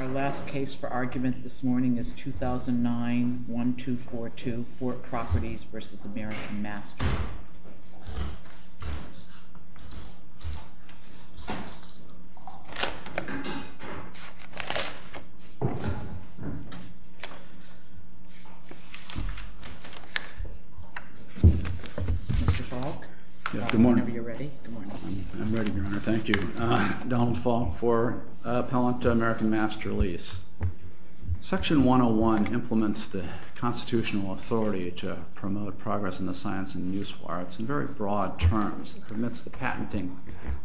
Our last case for argument this morning is 2009-1242, FORT PROPERTIES v. AMERICAN MASTER. Mr. Falk, whenever you're ready. I'm ready, Your Honor. Thank you, Donald Falk, for appellant to American Master Lease. Section 101 implements the constitutional authority to promote progress in the science and the useful arts in very broad terms. It permits the patenting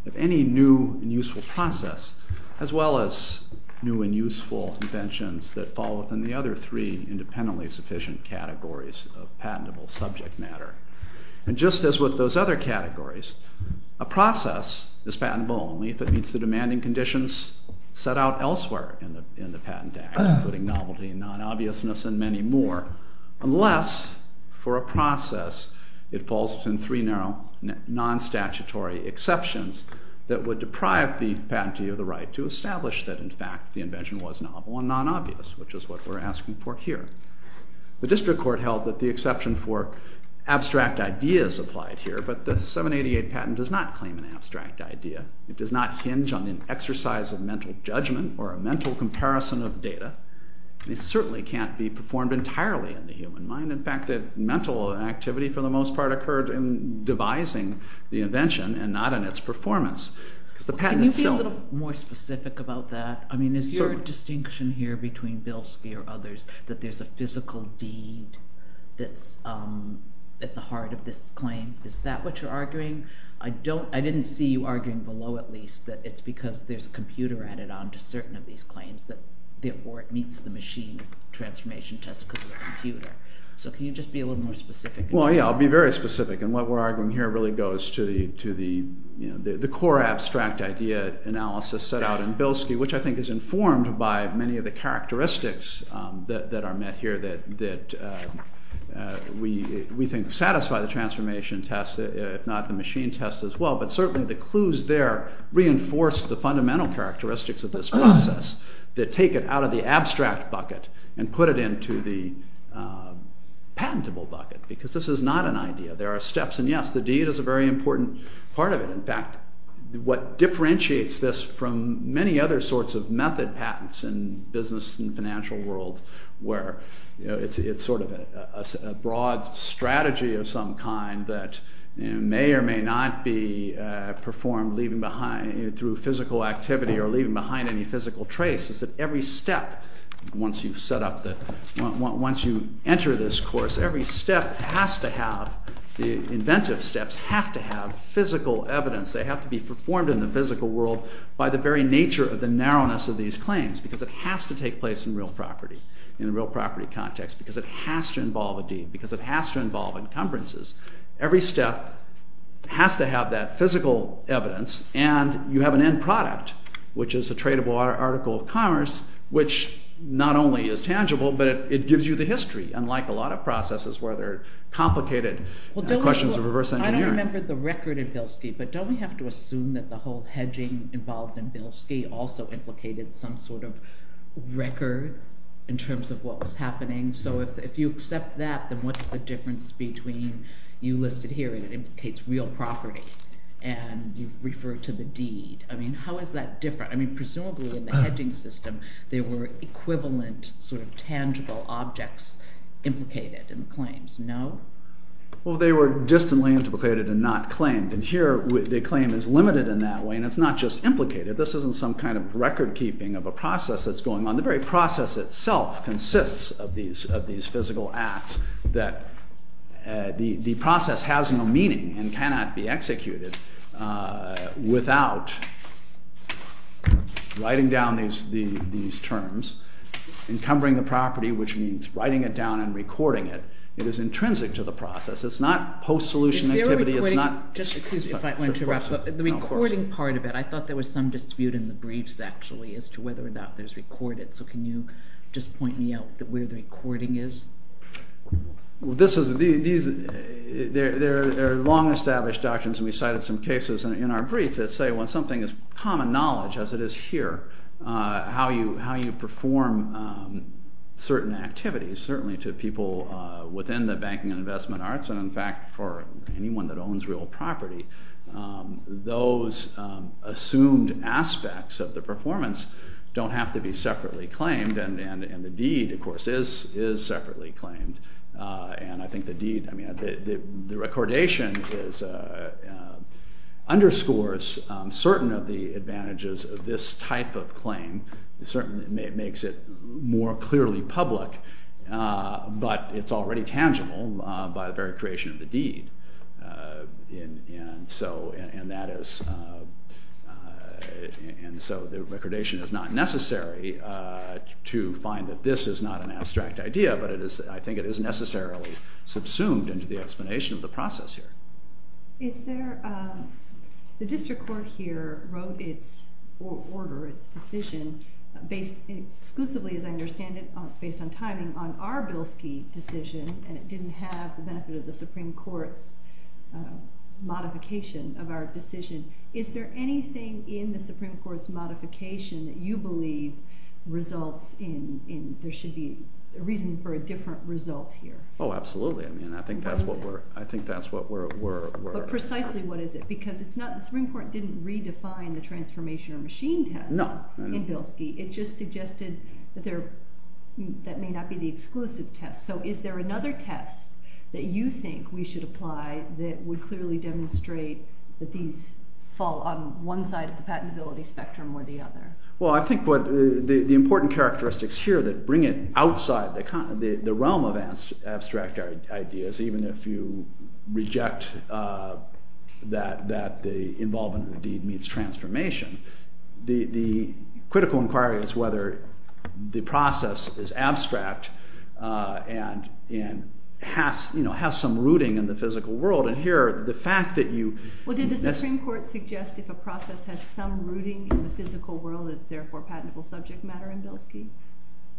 of any new and useful process, as well as new and useful inventions that fall within the other three independently sufficient categories of patentable subject matter. And just as with those other categories, a process is patentable only if it meets the demanding conditions set out elsewhere in the patent act, including novelty, non-obviousness, and many more, unless, for a process, it falls within three non-statutory exceptions that would deprive the patentee of the right to establish that, in fact, the invention was novel and non-obvious, which is what we're asking for here. The district court held that the exception for abstract ideas applied here, but the 788 patent does not claim an abstract idea. It does not hinge on an exercise of mental judgment or a mental comparison of data. It certainly can't be performed entirely in the human mind. In fact, the mental activity, for the most part, occurred in devising the invention and not in its performance. Can you be a little more specific about that? I mean, is there a distinction here between Bilski or others that there's a physical deed that's at the heart of this claim? Is that what you're arguing? I didn't see you arguing below, at least, that it's because there's a computer added on to certain of these claims, or it meets the machine transformation test because of the computer. So can you just be a little more specific? Well, yeah, I'll be very specific, and what we're arguing here really goes to the core abstract idea analysis set out in Bilski, which I think is informed by many of the characteristics that are met here that we think satisfy the transformation test, if not the machine test as well. But certainly the clues there reinforce the fundamental characteristics of this process that take it out of the abstract bucket and put it into the patentable bucket because this is not an idea. There are steps, and yes, the deed is a very important part of it. In fact, what differentiates this from many other sorts of method patents in the business and financial world where it's sort of a broad strategy of some kind that may or may not be performed through physical activity or leaving behind any physical trace is that every step, once you enter this course, every step has to have, the inventive steps, have to have physical evidence. They have to be performed in the physical world by the very nature of the narrowness of these claims because it has to take place in real property, in a real property context, because it has to involve a deed, because it has to involve encumbrances. Every step has to have that physical evidence, and you have an end product, which is a tradable article of commerce, which not only is tangible, but it gives you the history, unlike a lot of processes where there are complicated questions of reverse engineering. I don't remember the record in Bilski, but don't we have to assume that the whole hedging involved in Bilski also implicated some sort of record in terms of what was happening? So if you accept that, then what's the difference between you listed here, and it implicates real property, and you refer to the deed. I mean, how is that different? I mean, presumably in the hedging system, there were equivalent sort of tangible objects implicated in the claims, no? Well, they were distantly implicated and not claimed, and here the claim is limited in that way, and it's not just implicated. This isn't some kind of record-keeping of a process that's going on. The very process itself consists of these physical acts that the process has no meaning and cannot be executed without writing down these terms, encumbering the property, which means writing it down and recording it. It is intrinsic to the process. It's not post-solution activity. Excuse me if I want to interrupt, but the recording part of it, I thought there was some dispute in the briefs actually as to whether or not there's recorded. So can you just point me out where the recording is? There are long-established doctrines, and we cited some cases in our brief that say when something is common knowledge, as it is here, how you perform certain activities, certainly to people within the banking and investment arts, and in fact for anyone that owns real property, those assumed aspects of the performance don't have to be separately claimed, and the deed, of course, is separately claimed. The recordation underscores certain of the advantages of this type of claim. It certainly makes it more clearly public, but it's already tangible by the very creation of the deed. And so the recordation is not necessary to find that this is not an abstract idea, but I think it is necessarily subsumed into the explanation of the process here. The district court here wrote its order, its decision, exclusively, as I understand it, based on timing, on our Bilski decision, and it didn't have the benefit of the Supreme Court's modification of our decision. Is there anything in the Supreme Court's modification that you believe results in there should be a reason for a different result here? Oh, absolutely. I think that's what we're... But precisely what is it? Because the Supreme Court didn't redefine the transformation or machine test in Bilski. It just suggested that may not be the exclusive test. So is there another test that you think we should apply that would clearly demonstrate that these fall on one side of the patentability spectrum or the other? Well, I think the important characteristics here that bring it outside the realm of abstract ideas, even if you reject that the involvement of the deed meets transformation, the critical inquiry is whether the process is abstract and has some rooting in the physical world. Well, did the Supreme Court suggest if a process has some rooting in the physical world, it's therefore patentable subject matter in Bilski?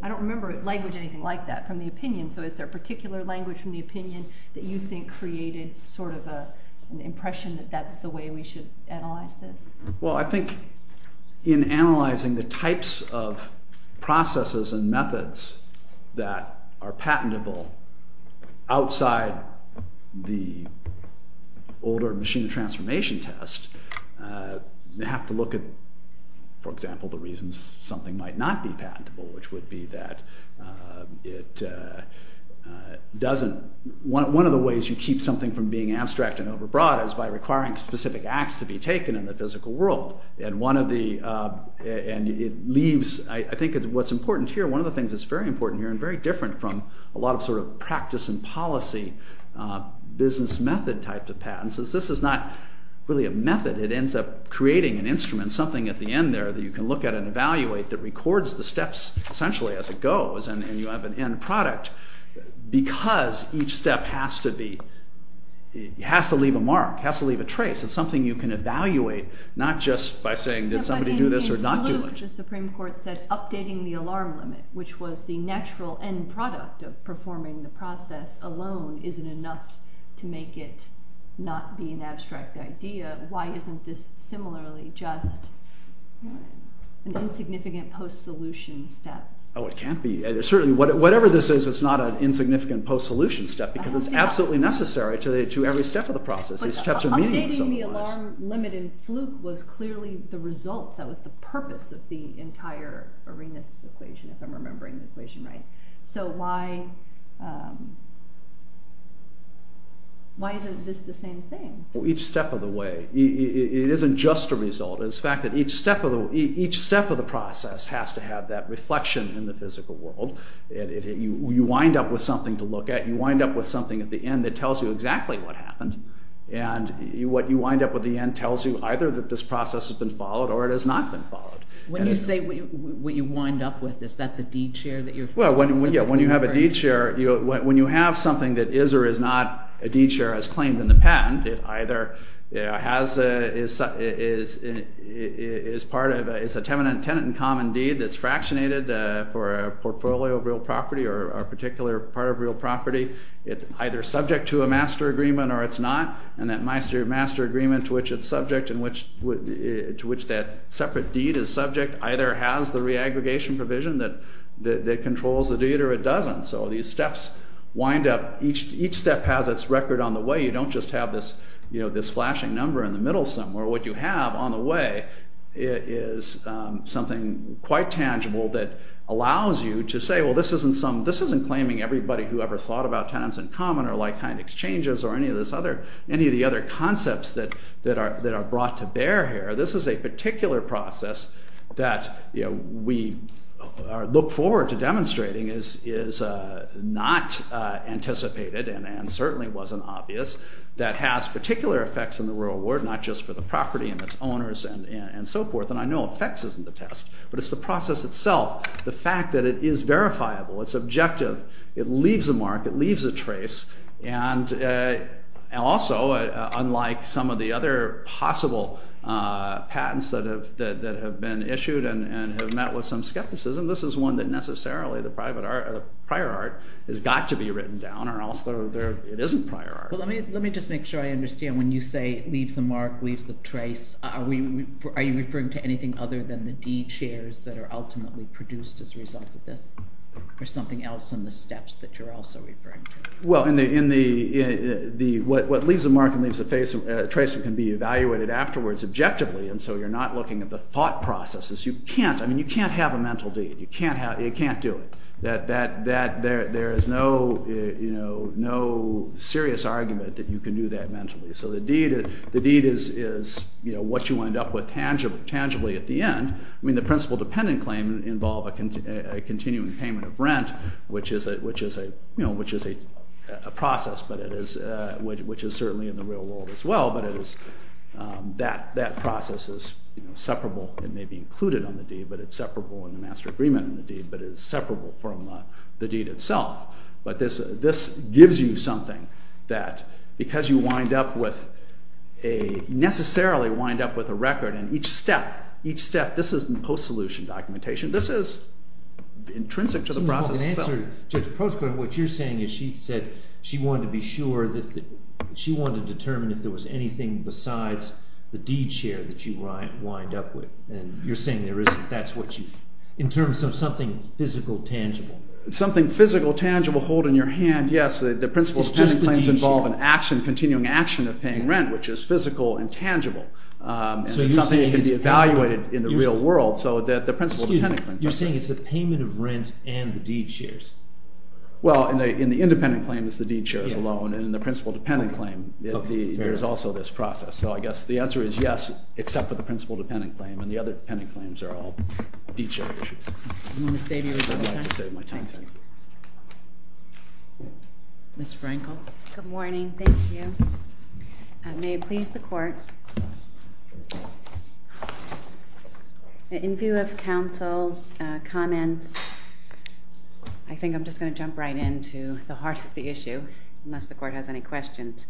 I don't remember language anything like that from the opinion. So is there a particular language from the opinion that you think created sort of an impression that that's the way we should analyze this? Well, I think in analyzing the types of processes and methods that are patentable outside the older machine transformation test, you have to look at, for example, the reasons something might not be patentable, which would be that it doesn't... I think what's important here, one of the things that's very important here and very different from a lot of sort of practice and policy business method type of patents, is this is not really a method. It ends up creating an instrument, something at the end there that you can look at and evaluate that records the steps essentially as it goes, and you have an end product because each step has to leave a mark, has to leave a trace. It's something you can evaluate, not just by saying did somebody do this or not do it. But in Luke, the Supreme Court said updating the alarm limit, which was the natural end product of performing the process alone, isn't enough to make it not be an abstract idea. Why isn't this similarly just an insignificant post-solution step? Oh, it can't be. Certainly, whatever this is, it's not an insignificant post-solution step because it's absolutely necessary to every step of the process. Updating the alarm limit in Fluke was clearly the result, that was the purpose of the entire Arenas equation, if I'm remembering the equation right. So why isn't this the same thing? Each step of the way. It isn't just a result. It's the fact that each step of the process has to have that reflection in the physical world. You wind up with something to look at. You wind up with something at the end that tells you exactly what happened. And what you wind up with at the end tells you either that this process has been followed or it has not been followed. When you say what you wind up with, is that the deed share that you're specifically referring to? Well, yeah, when you have a deed share, when you have something that is or is not a deed share as claimed in the patent, it either is a tenant in common deed that's fractionated for a portfolio of real property or a particular part of real property. It's either subject to a master agreement or it's not. And that master agreement to which it's subject, to which that separate deed is subject, either has the re-aggregation provision that controls the deed or it doesn't. So these steps wind up, each step has its record on the way. You don't just have this flashing number in the middle somewhere. What you have on the way is something quite tangible that allows you to say, well, this isn't claiming everybody who ever thought about tenants in common or like-kind exchanges or any of the other concepts that are brought to bear here. This is a particular process that we look forward to demonstrating is not anticipated and certainly wasn't obvious that has particular effects in the rural world, not just for the property and its owners and so forth. And I know effects isn't the test, but it's the process itself. The fact that it is verifiable, it's objective, it leaves a mark, it leaves a trace. And also, unlike some of the other possible patents that have been issued and have met with some skepticism, this is one that necessarily the prior art has got to be written down or else it isn't prior art. Let me just make sure I understand. When you say leaves a mark, leaves a trace, are you referring to anything other than the deed shares that are ultimately produced as a result of this or something else in the steps that you're also referring to? Well, what leaves a mark and leaves a trace can be evaluated afterwards objectively, and so you're not looking at the thought processes. You can't have a mental deed. You can't do it. There is no serious argument that you can do that mentally. So the deed is what you wind up with tangibly at the end. The principal dependent claim involves a continuing payment of rent, which is a process, which is certainly in the real world as well, but that process is separable. It may be included on the deed, but it's separable in the master agreement on the deed, but it's separable from the deed itself. But this gives you something that because you wind up with a necessarily wind up with a record, and each step, each step, this isn't post-solution documentation. This is intrinsic to the process itself. In answer to Judge Proskauer, what you're saying is she said she wanted to be sure, she wanted to determine if there was anything besides the deed share that you wind up with, and you're saying there isn't. That's what you, in terms of something physical, tangible. Something physical, tangible, hold in your hand, yes, the principal dependent claim involves an action, continuing action of paying rent, which is physical and tangible. And it's something that can be evaluated in the real world, so that the principal dependent claim doesn't. You're saying it's the payment of rent and the deed shares. Well, in the independent claim it's the deed shares alone, and in the principal dependent claim there's also this process. So I guess the answer is yes, except for the principal dependent claim, and the other dependent claims are all deed share issues. I'm going to save you a little time. I'd like to save my time, thank you. Ms. Frankel. Good morning. Thank you. May it please the court. In view of counsel's comments, I think I'm just going to jump right into the heart of the issue, unless the court has any questions.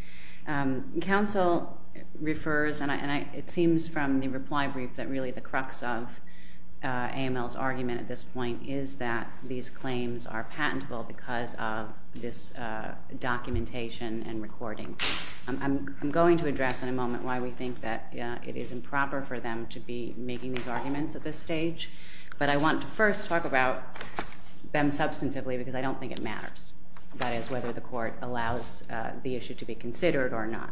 Counsel refers, and it seems from the reply brief that really the crux of AML's argument at this point is that these claims are patentable because of this documentation and recording. I'm going to address in a moment why we think that it is improper for them to be making these arguments at this stage, but I want to first talk about them substantively, because I don't think it matters. That is, whether the court allows the issue to be considered or not.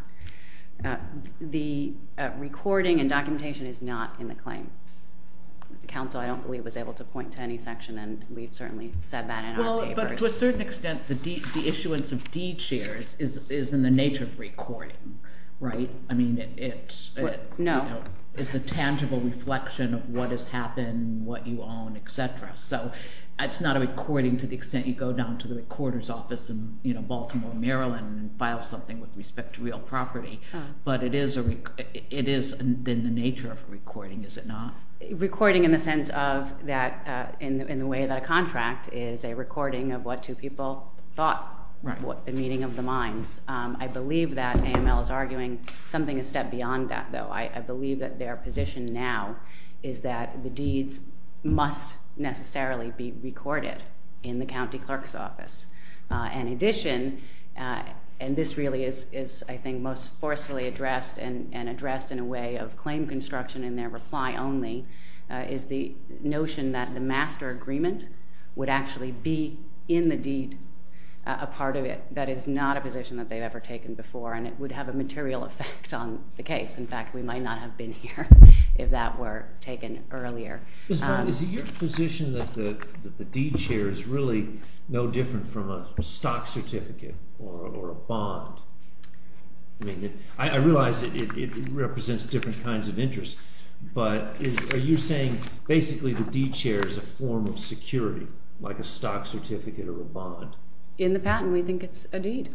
Counsel, I don't believe, was able to point to any section, and we've certainly said that in our papers. Well, but to a certain extent, the issuance of deed shares is in the nature of recording, right? I mean, it's the tangible reflection of what has happened, what you own, et cetera. So it's not a recording to the extent you go down to the recorder's office in Baltimore, Maryland, and file something with respect to real property, but it is in the nature of recording, is it not? Recording in the sense of that in the way that a contract is a recording of what two people thought, the meeting of the minds. I believe that AML is arguing something a step beyond that, though. I believe that their position now is that the deeds must necessarily be recorded in the county clerk's office. In addition, and this really is, I think, most forcefully addressed and addressed in a way of claim construction in their reply only, is the notion that the master agreement would actually be in the deed a part of it that is not a position that they've ever taken before, and it would have a material effect on the case. In fact, we might not have been here if that were taken earlier. Is it your position that the deed share is really no different from a stock certificate or a bond? I realize it represents different kinds of interest, but are you saying basically the deed share is a form of security like a stock certificate or a bond? In the patent, we think it's a deed,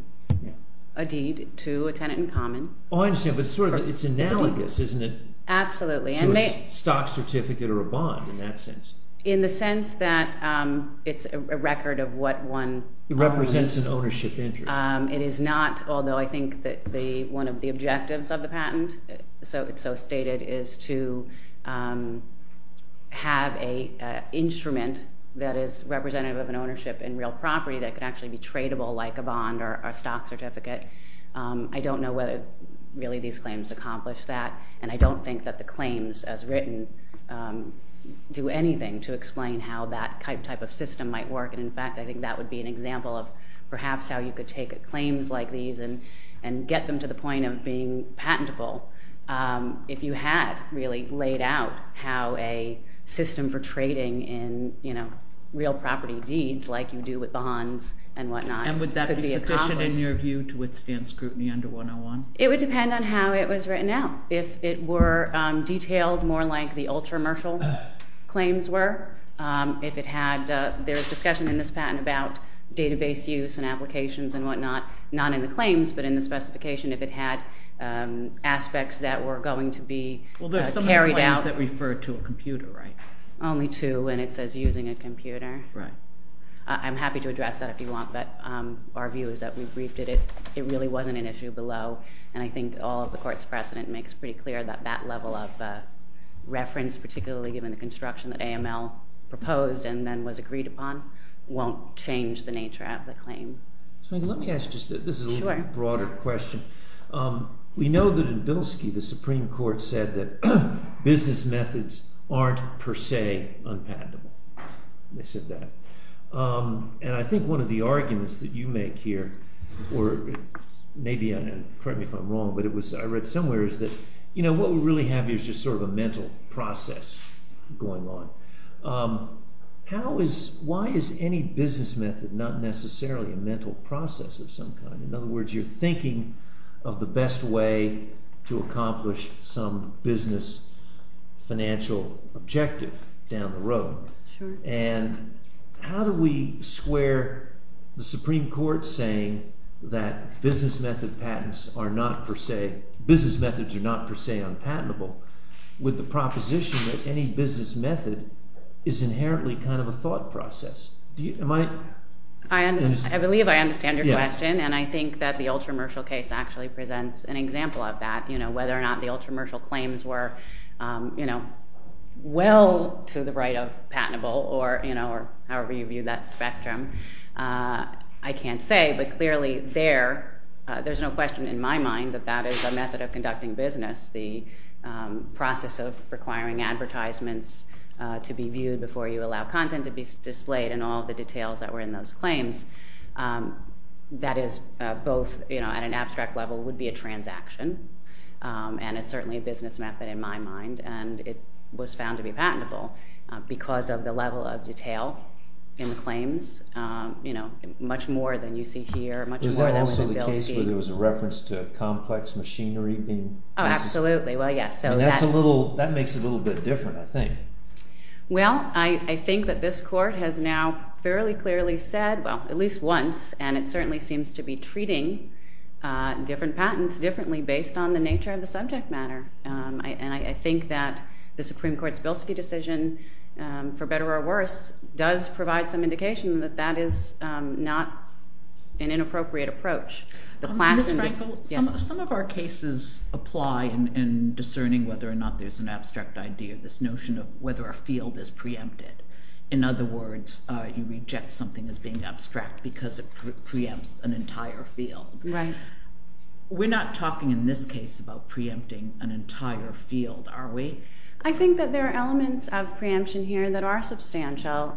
a deed to a tenant in common. Oh, I understand, but it's analogous, isn't it? Absolutely. To a stock certificate or a bond in that sense. In the sense that it's a record of what one- It represents an ownership interest. It is not, although I think that one of the objectives of the patent, so it's so stated, is to have an instrument that is representative of an ownership in real property that can actually be tradable like a bond or a stock certificate. I don't know whether really these claims accomplish that, and I don't think that the claims as written do anything to explain how that type of system might work. In fact, I think that would be an example of perhaps how you could take claims like these and get them to the point of being patentable if you had really laid out how a system for trading in real property deeds like you do with bonds and whatnot could be accomplished. And would that be sufficient in your view to withstand scrutiny under 101? It would depend on how it was written out. If it were detailed more like the ultra-mercial claims were, if it had-there's discussion in this patent about database use and applications and whatnot, not in the claims but in the specification, if it had aspects that were going to be carried out- Well, there's some of the claims that refer to a computer, right? Only two, and it says using a computer. Right. I'm happy to address that if you want, but our view is that we briefed it. It really wasn't an issue below, and I think all of the court's precedent makes pretty clear that that level of reference, particularly given the construction that AML proposed and then was agreed upon, won't change the nature of the claim. Let me ask just-this is a little broader question. We know that in Bilski, the Supreme Court said that business methods aren't per se unpatentable. They said that. I think one of the arguments that you make here, or maybe-pardon me if I'm wrong, but I read somewhere is that what we really have here is just sort of a mental process going on. How is-why is any business method not necessarily a mental process of some kind? In other words, you're thinking of the best way to accomplish some business financial objective down the road. Sure. And how do we square the Supreme Court saying that business method patents are not per se- business methods are not per se unpatentable with the proposition that any business method is inherently kind of a thought process? Do you-am I- I believe I understand your question, and I think that the ultra-mercial case actually presents an example of that, whether or not the ultra-mercial claims were well to the right of patentable, or however you view that spectrum. I can't say, but clearly there, there's no question in my mind that that is a method of conducting business, the process of requiring advertisements to be viewed before you allow content to be displayed and all the details that were in those claims. That is both, you know, at an abstract level would be a transaction, and it's certainly a business method in my mind, and it was found to be patentable because of the level of detail in the claims, you know, much more than you see here, much more than- Is there also the case where there was a reference to a complex machinery being- Oh, absolutely. Well, yes. And that's a little-that makes it a little bit different, I think. Well, I think that this court has now fairly clearly said, well, at least once, and it certainly seems to be treating different patents differently based on the nature of the subject matter. And I think that the Supreme Court's Bilski decision, for better or worse, does provide some indication that that is not an inappropriate approach. The class- Ms. Frankel, some of our cases apply in discerning whether or not there's an abstract idea, this notion of whether a field is preempted. In other words, you reject something as being abstract because it preempts an entire field. Right. We're not talking in this case about preempting an entire field, are we? I think that there are elements of preemption here that are substantial.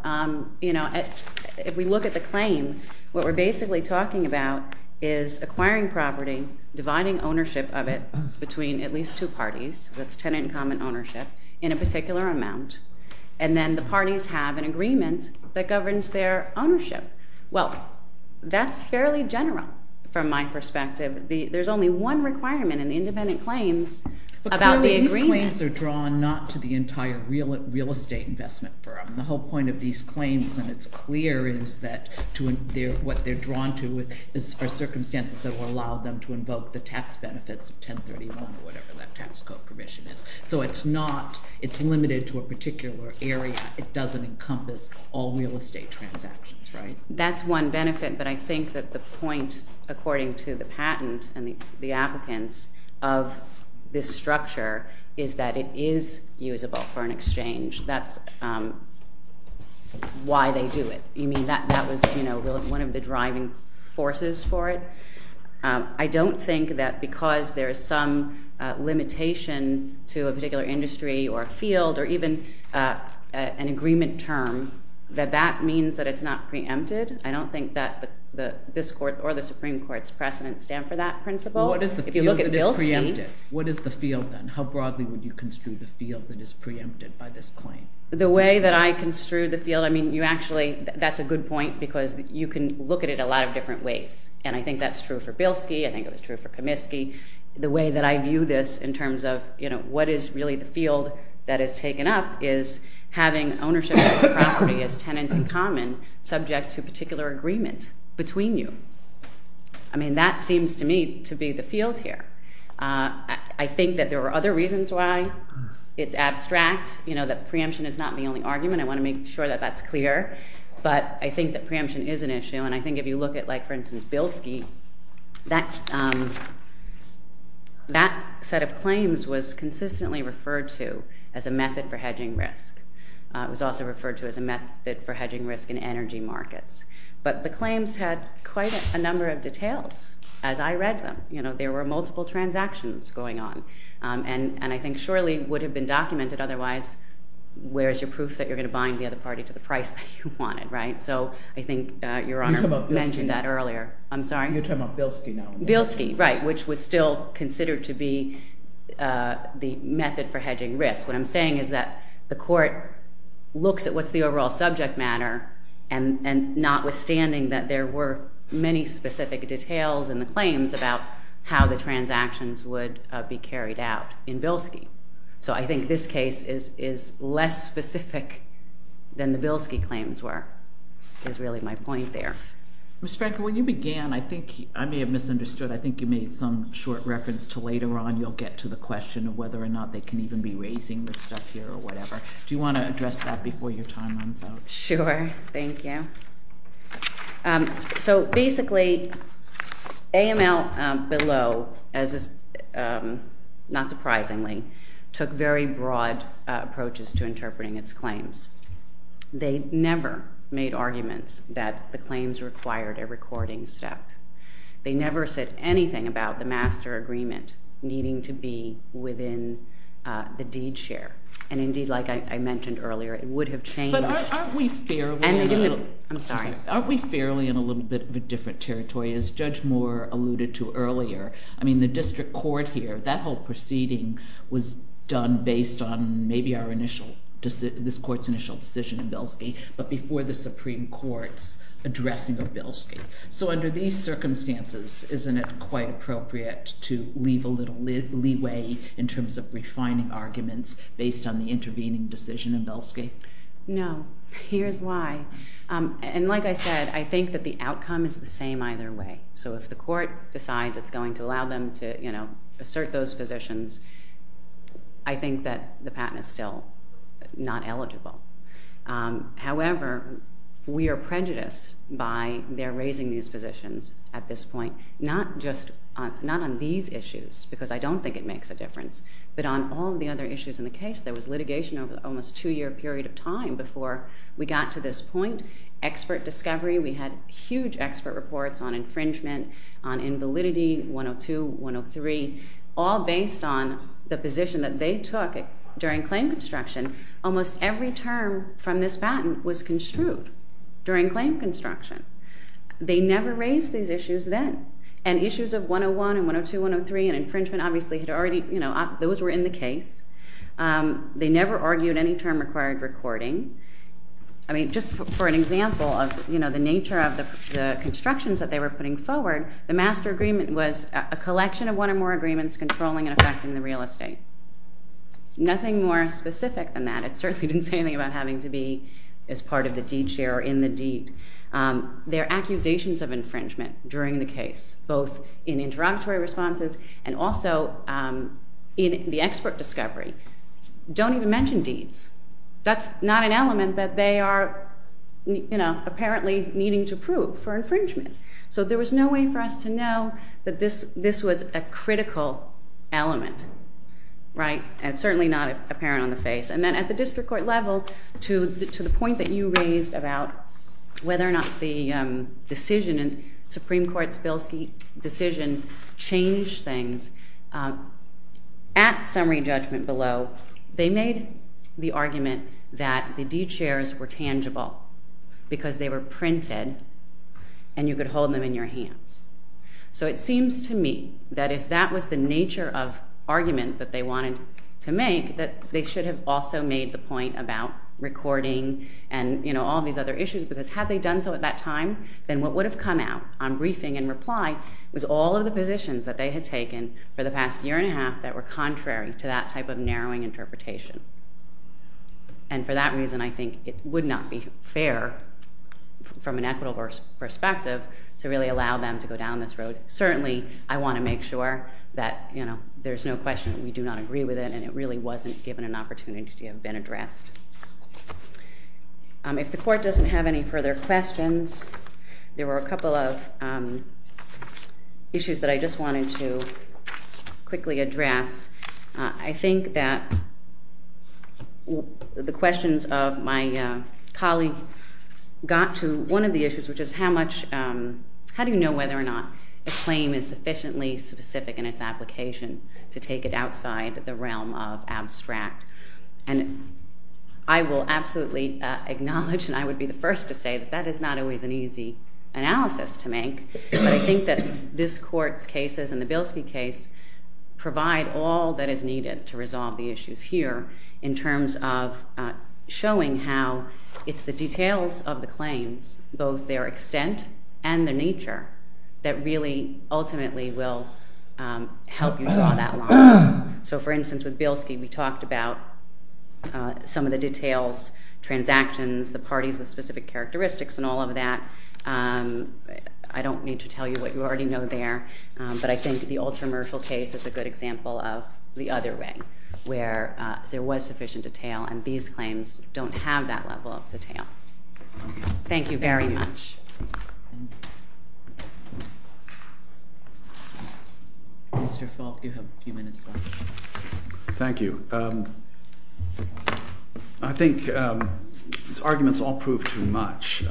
You know, if we look at the claim, what we're basically talking about is acquiring property, dividing ownership of it between at least two parties, that's tenant and common ownership, in a particular amount, and then the parties have an agreement that governs their ownership. Well, that's fairly general from my perspective. There's only one requirement in the independent claims about the agreement. But clearly these claims are drawn not to the entire real estate investment firm. The whole point of these claims, and it's clear, is that what they're drawn to is for circumstances that will allow them to invoke the tax benefits of 1031 or whatever that tax code provision is. So it's not, it's limited to a particular area. It doesn't encompass all real estate transactions, right? That's one benefit, but I think that the point, according to the patent and the applicants, of this structure is that it is usable for an exchange. That's why they do it. You mean that that was, you know, one of the driving forces for it? I don't think that because there is some limitation to a particular industry or a field or even an agreement term, that that means that it's not preempted. I don't think that this Court or the Supreme Court's precedents stand for that principle. If you look at Bill's claim... What is the field then? How broadly would you construe the field that is preempted by this claim? The way that I construe the field, I mean, you actually, that's a good point because you can look at it a lot of different ways, and I think that's true for Bilski. I think it was true for Kamisky. The way that I view this in terms of, you know, what is really the field that is taken up is having ownership of the property as tenants in common, subject to a particular agreement between you. I mean, that seems to me to be the field here. I think that there are other reasons why it's abstract, you know, that preemption is not the only argument. I want to make sure that that's clear. But I think that preemption is an issue, and I think if you look at, like, for instance, Bilski, that set of claims was consistently referred to as a method for hedging risk. It was also referred to as a method for hedging risk in energy markets. But the claims had quite a number of details as I read them. You know, there were multiple transactions going on, and I think surely it would have been documented otherwise. Where is your proof that you're going to bind the other party to the price that you wanted, right? So I think Your Honor mentioned that earlier. I'm sorry? You're talking about Bilski now. Bilski, right, which was still considered to be the method for hedging risk. What I'm saying is that the court looks at what's the overall subject matter, and notwithstanding that there were many specific details in the claims about how the transactions would be carried out in Bilski. So I think this case is less specific than the Bilski claims were, is really my point there. Ms. Frankel, when you began, I think I may have misunderstood. I think you made some short reference to later on you'll get to the question of whether or not they can even be raising this stuff here or whatever. Do you want to address that before your time runs out? Sure. Thank you. So basically, AML below, not surprisingly, took very broad approaches to interpreting its claims. They never made arguments that the claims required a recording step. They never said anything about the master agreement needing to be within the deed share. And indeed, like I mentioned earlier, it would have changed. But aren't we fairly in a little bit of a different territory? As Judge Moore alluded to earlier, I mean, the district court here, that whole proceeding was done based on maybe this court's initial decision in Bilski, but before the Supreme Court's addressing of Bilski. So under these circumstances, isn't it quite appropriate to leave a little leeway in terms of refining arguments based on the intervening decision in Bilski? No. Here's why. And like I said, I think that the outcome is the same either way. So if the court decides it's going to allow them to assert those positions, I think that the patent is still not eligible. However, we are prejudiced by their raising these positions at this point, not on these issues, because I don't think it makes a difference, but on all the other issues in the case. There was litigation over almost a two-year period of time before we got to this point. Expert discovery, we had huge expert reports on infringement, on invalidity, 102, 103, all based on the position that they took during claim construction. Almost every term from this patent was construed during claim construction. They never raised these issues then. And issues of 101 and 102, 103 and infringement, obviously, those were in the case. They never argued any term-required recording. Just for an example of the nature of the constructions that they were putting forward, the master agreement was a collection of one or more agreements controlling and affecting the real estate. Nothing more specific than that. I certainly didn't say anything about having to be as part of the deed share or in the deed. Their accusations of infringement during the case, both in interrogatory responses and also in the expert discovery, don't even mention deeds. That's not an element that they are apparently needing to prove for infringement. So there was no way for us to know that this was a critical element. It's certainly not apparent on the face. And then at the district court level, to the point that you raised about whether or not the decision in Supreme Court's Bilski decision changed things, at summary judgment below, they made the argument that the deed shares were tangible because they were printed and you could hold them in your hands. So it seems to me that if that was the nature of argument that they wanted to make, that they should have also made the point about recording and all these other issues because had they done so at that time, then what would have come out on briefing and reply was all of the positions that they had taken for the past year and a half that were contrary to that type of narrowing interpretation. And for that reason, I think it would not be fair from an equitable perspective to really allow them to go down this road. Certainly, I want to make sure that there's no question that we do not agree with it and it really wasn't given an opportunity to have been addressed. If the court doesn't have any further questions, there were a couple of issues that I just wanted to quickly address. I think that the questions of my colleague got to one of the issues, which is how do you know whether or not a claim is sufficiently specific in its application to take it outside the realm of abstract? And I will absolutely acknowledge and I would be the first to say that that is not always an easy analysis to make, but I think that this Court's cases and the Bilski case provide all that is needed to resolve the issues here in terms of showing how it's the details of the claims, both their extent and their nature, that really ultimately will help you draw that line. So, for instance, with Bilski, we talked about some of the details, transactions, the parties with specific characteristics and all of that. I don't need to tell you what you already know there, but I think the ultra-mercial case is a good example of the other way, where there was sufficient detail and these claims don't have that level of detail. Thank you very much. Mr. Falk, you have a few minutes left. Thank you. I think these arguments all prove too much.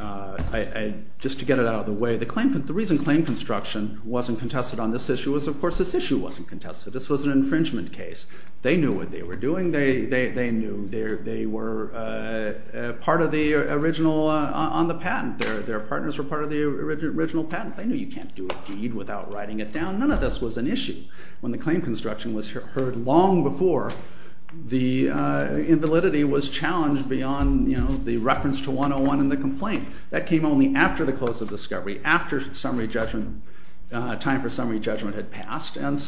Just to get it out of the way, the reason claim construction wasn't contested on this issue was of course this issue wasn't contested. This was an infringement case. They knew what they were doing. They knew. They were part of the original on the patent. Their partners were part of the original patent. They knew you can't do a deed without writing it down. None of this was an issue. When the claim construction was heard long before, the invalidity was challenged beyond the reference to 101 in the complaint. That came only after the close of discovery, and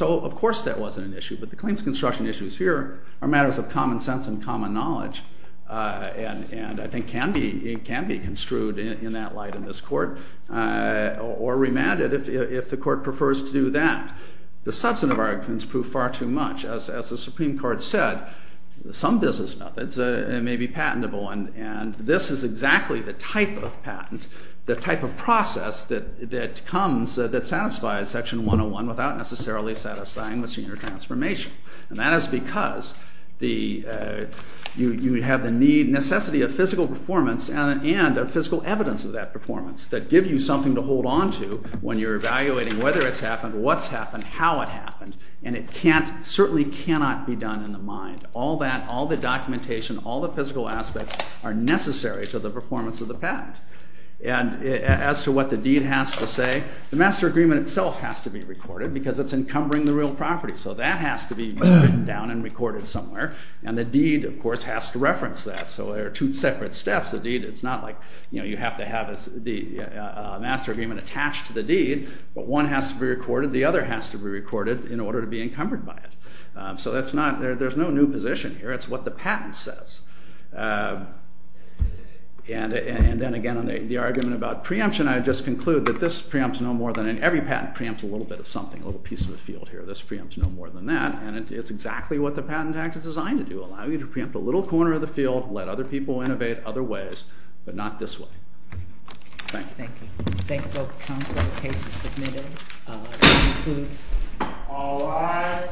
so of course that wasn't an issue. But the claims construction issues here are matters of common sense and common knowledge and I think can be construed in that light in this court or remanded if the court prefers to do that. The substantive arguments prove far too much. As the Supreme Court said, some business methods may be patentable, and this is exactly the type of patent, the type of process that comes that satisfies Section 101 without necessarily satisfying the senior transformation, and that is because you have the necessity of physical performance and of physical evidence of that performance that give you something to hold onto when you're evaluating whether it's happened, what's happened, how it happened, and it certainly cannot be done in the mind. All the documentation, all the physical aspects are necessary to the performance of the patent. And as to what the deed has to say, the master agreement itself has to be recorded because it's encumbering the real property, so that has to be written down and recorded somewhere, and the deed, of course, has to reference that, so there are two separate steps. It's not like you have to have the master agreement attached to the deed, but one has to be recorded, the other has to be recorded in order to be encumbered by it. So there's no new position here. It's what the patent says. And then again on the argument about preemption, I'd just conclude that this preempts no more than any... every patent preempts a little bit of something, a little piece of the field here. This preempts no more than that, and it's exactly what the Patent Act is designed to do, allow you to preempt a little corner of the field, let other people innovate other ways, but not this way. Thank you. Thank you. Thank you both counsel. The case is submitted. All rise.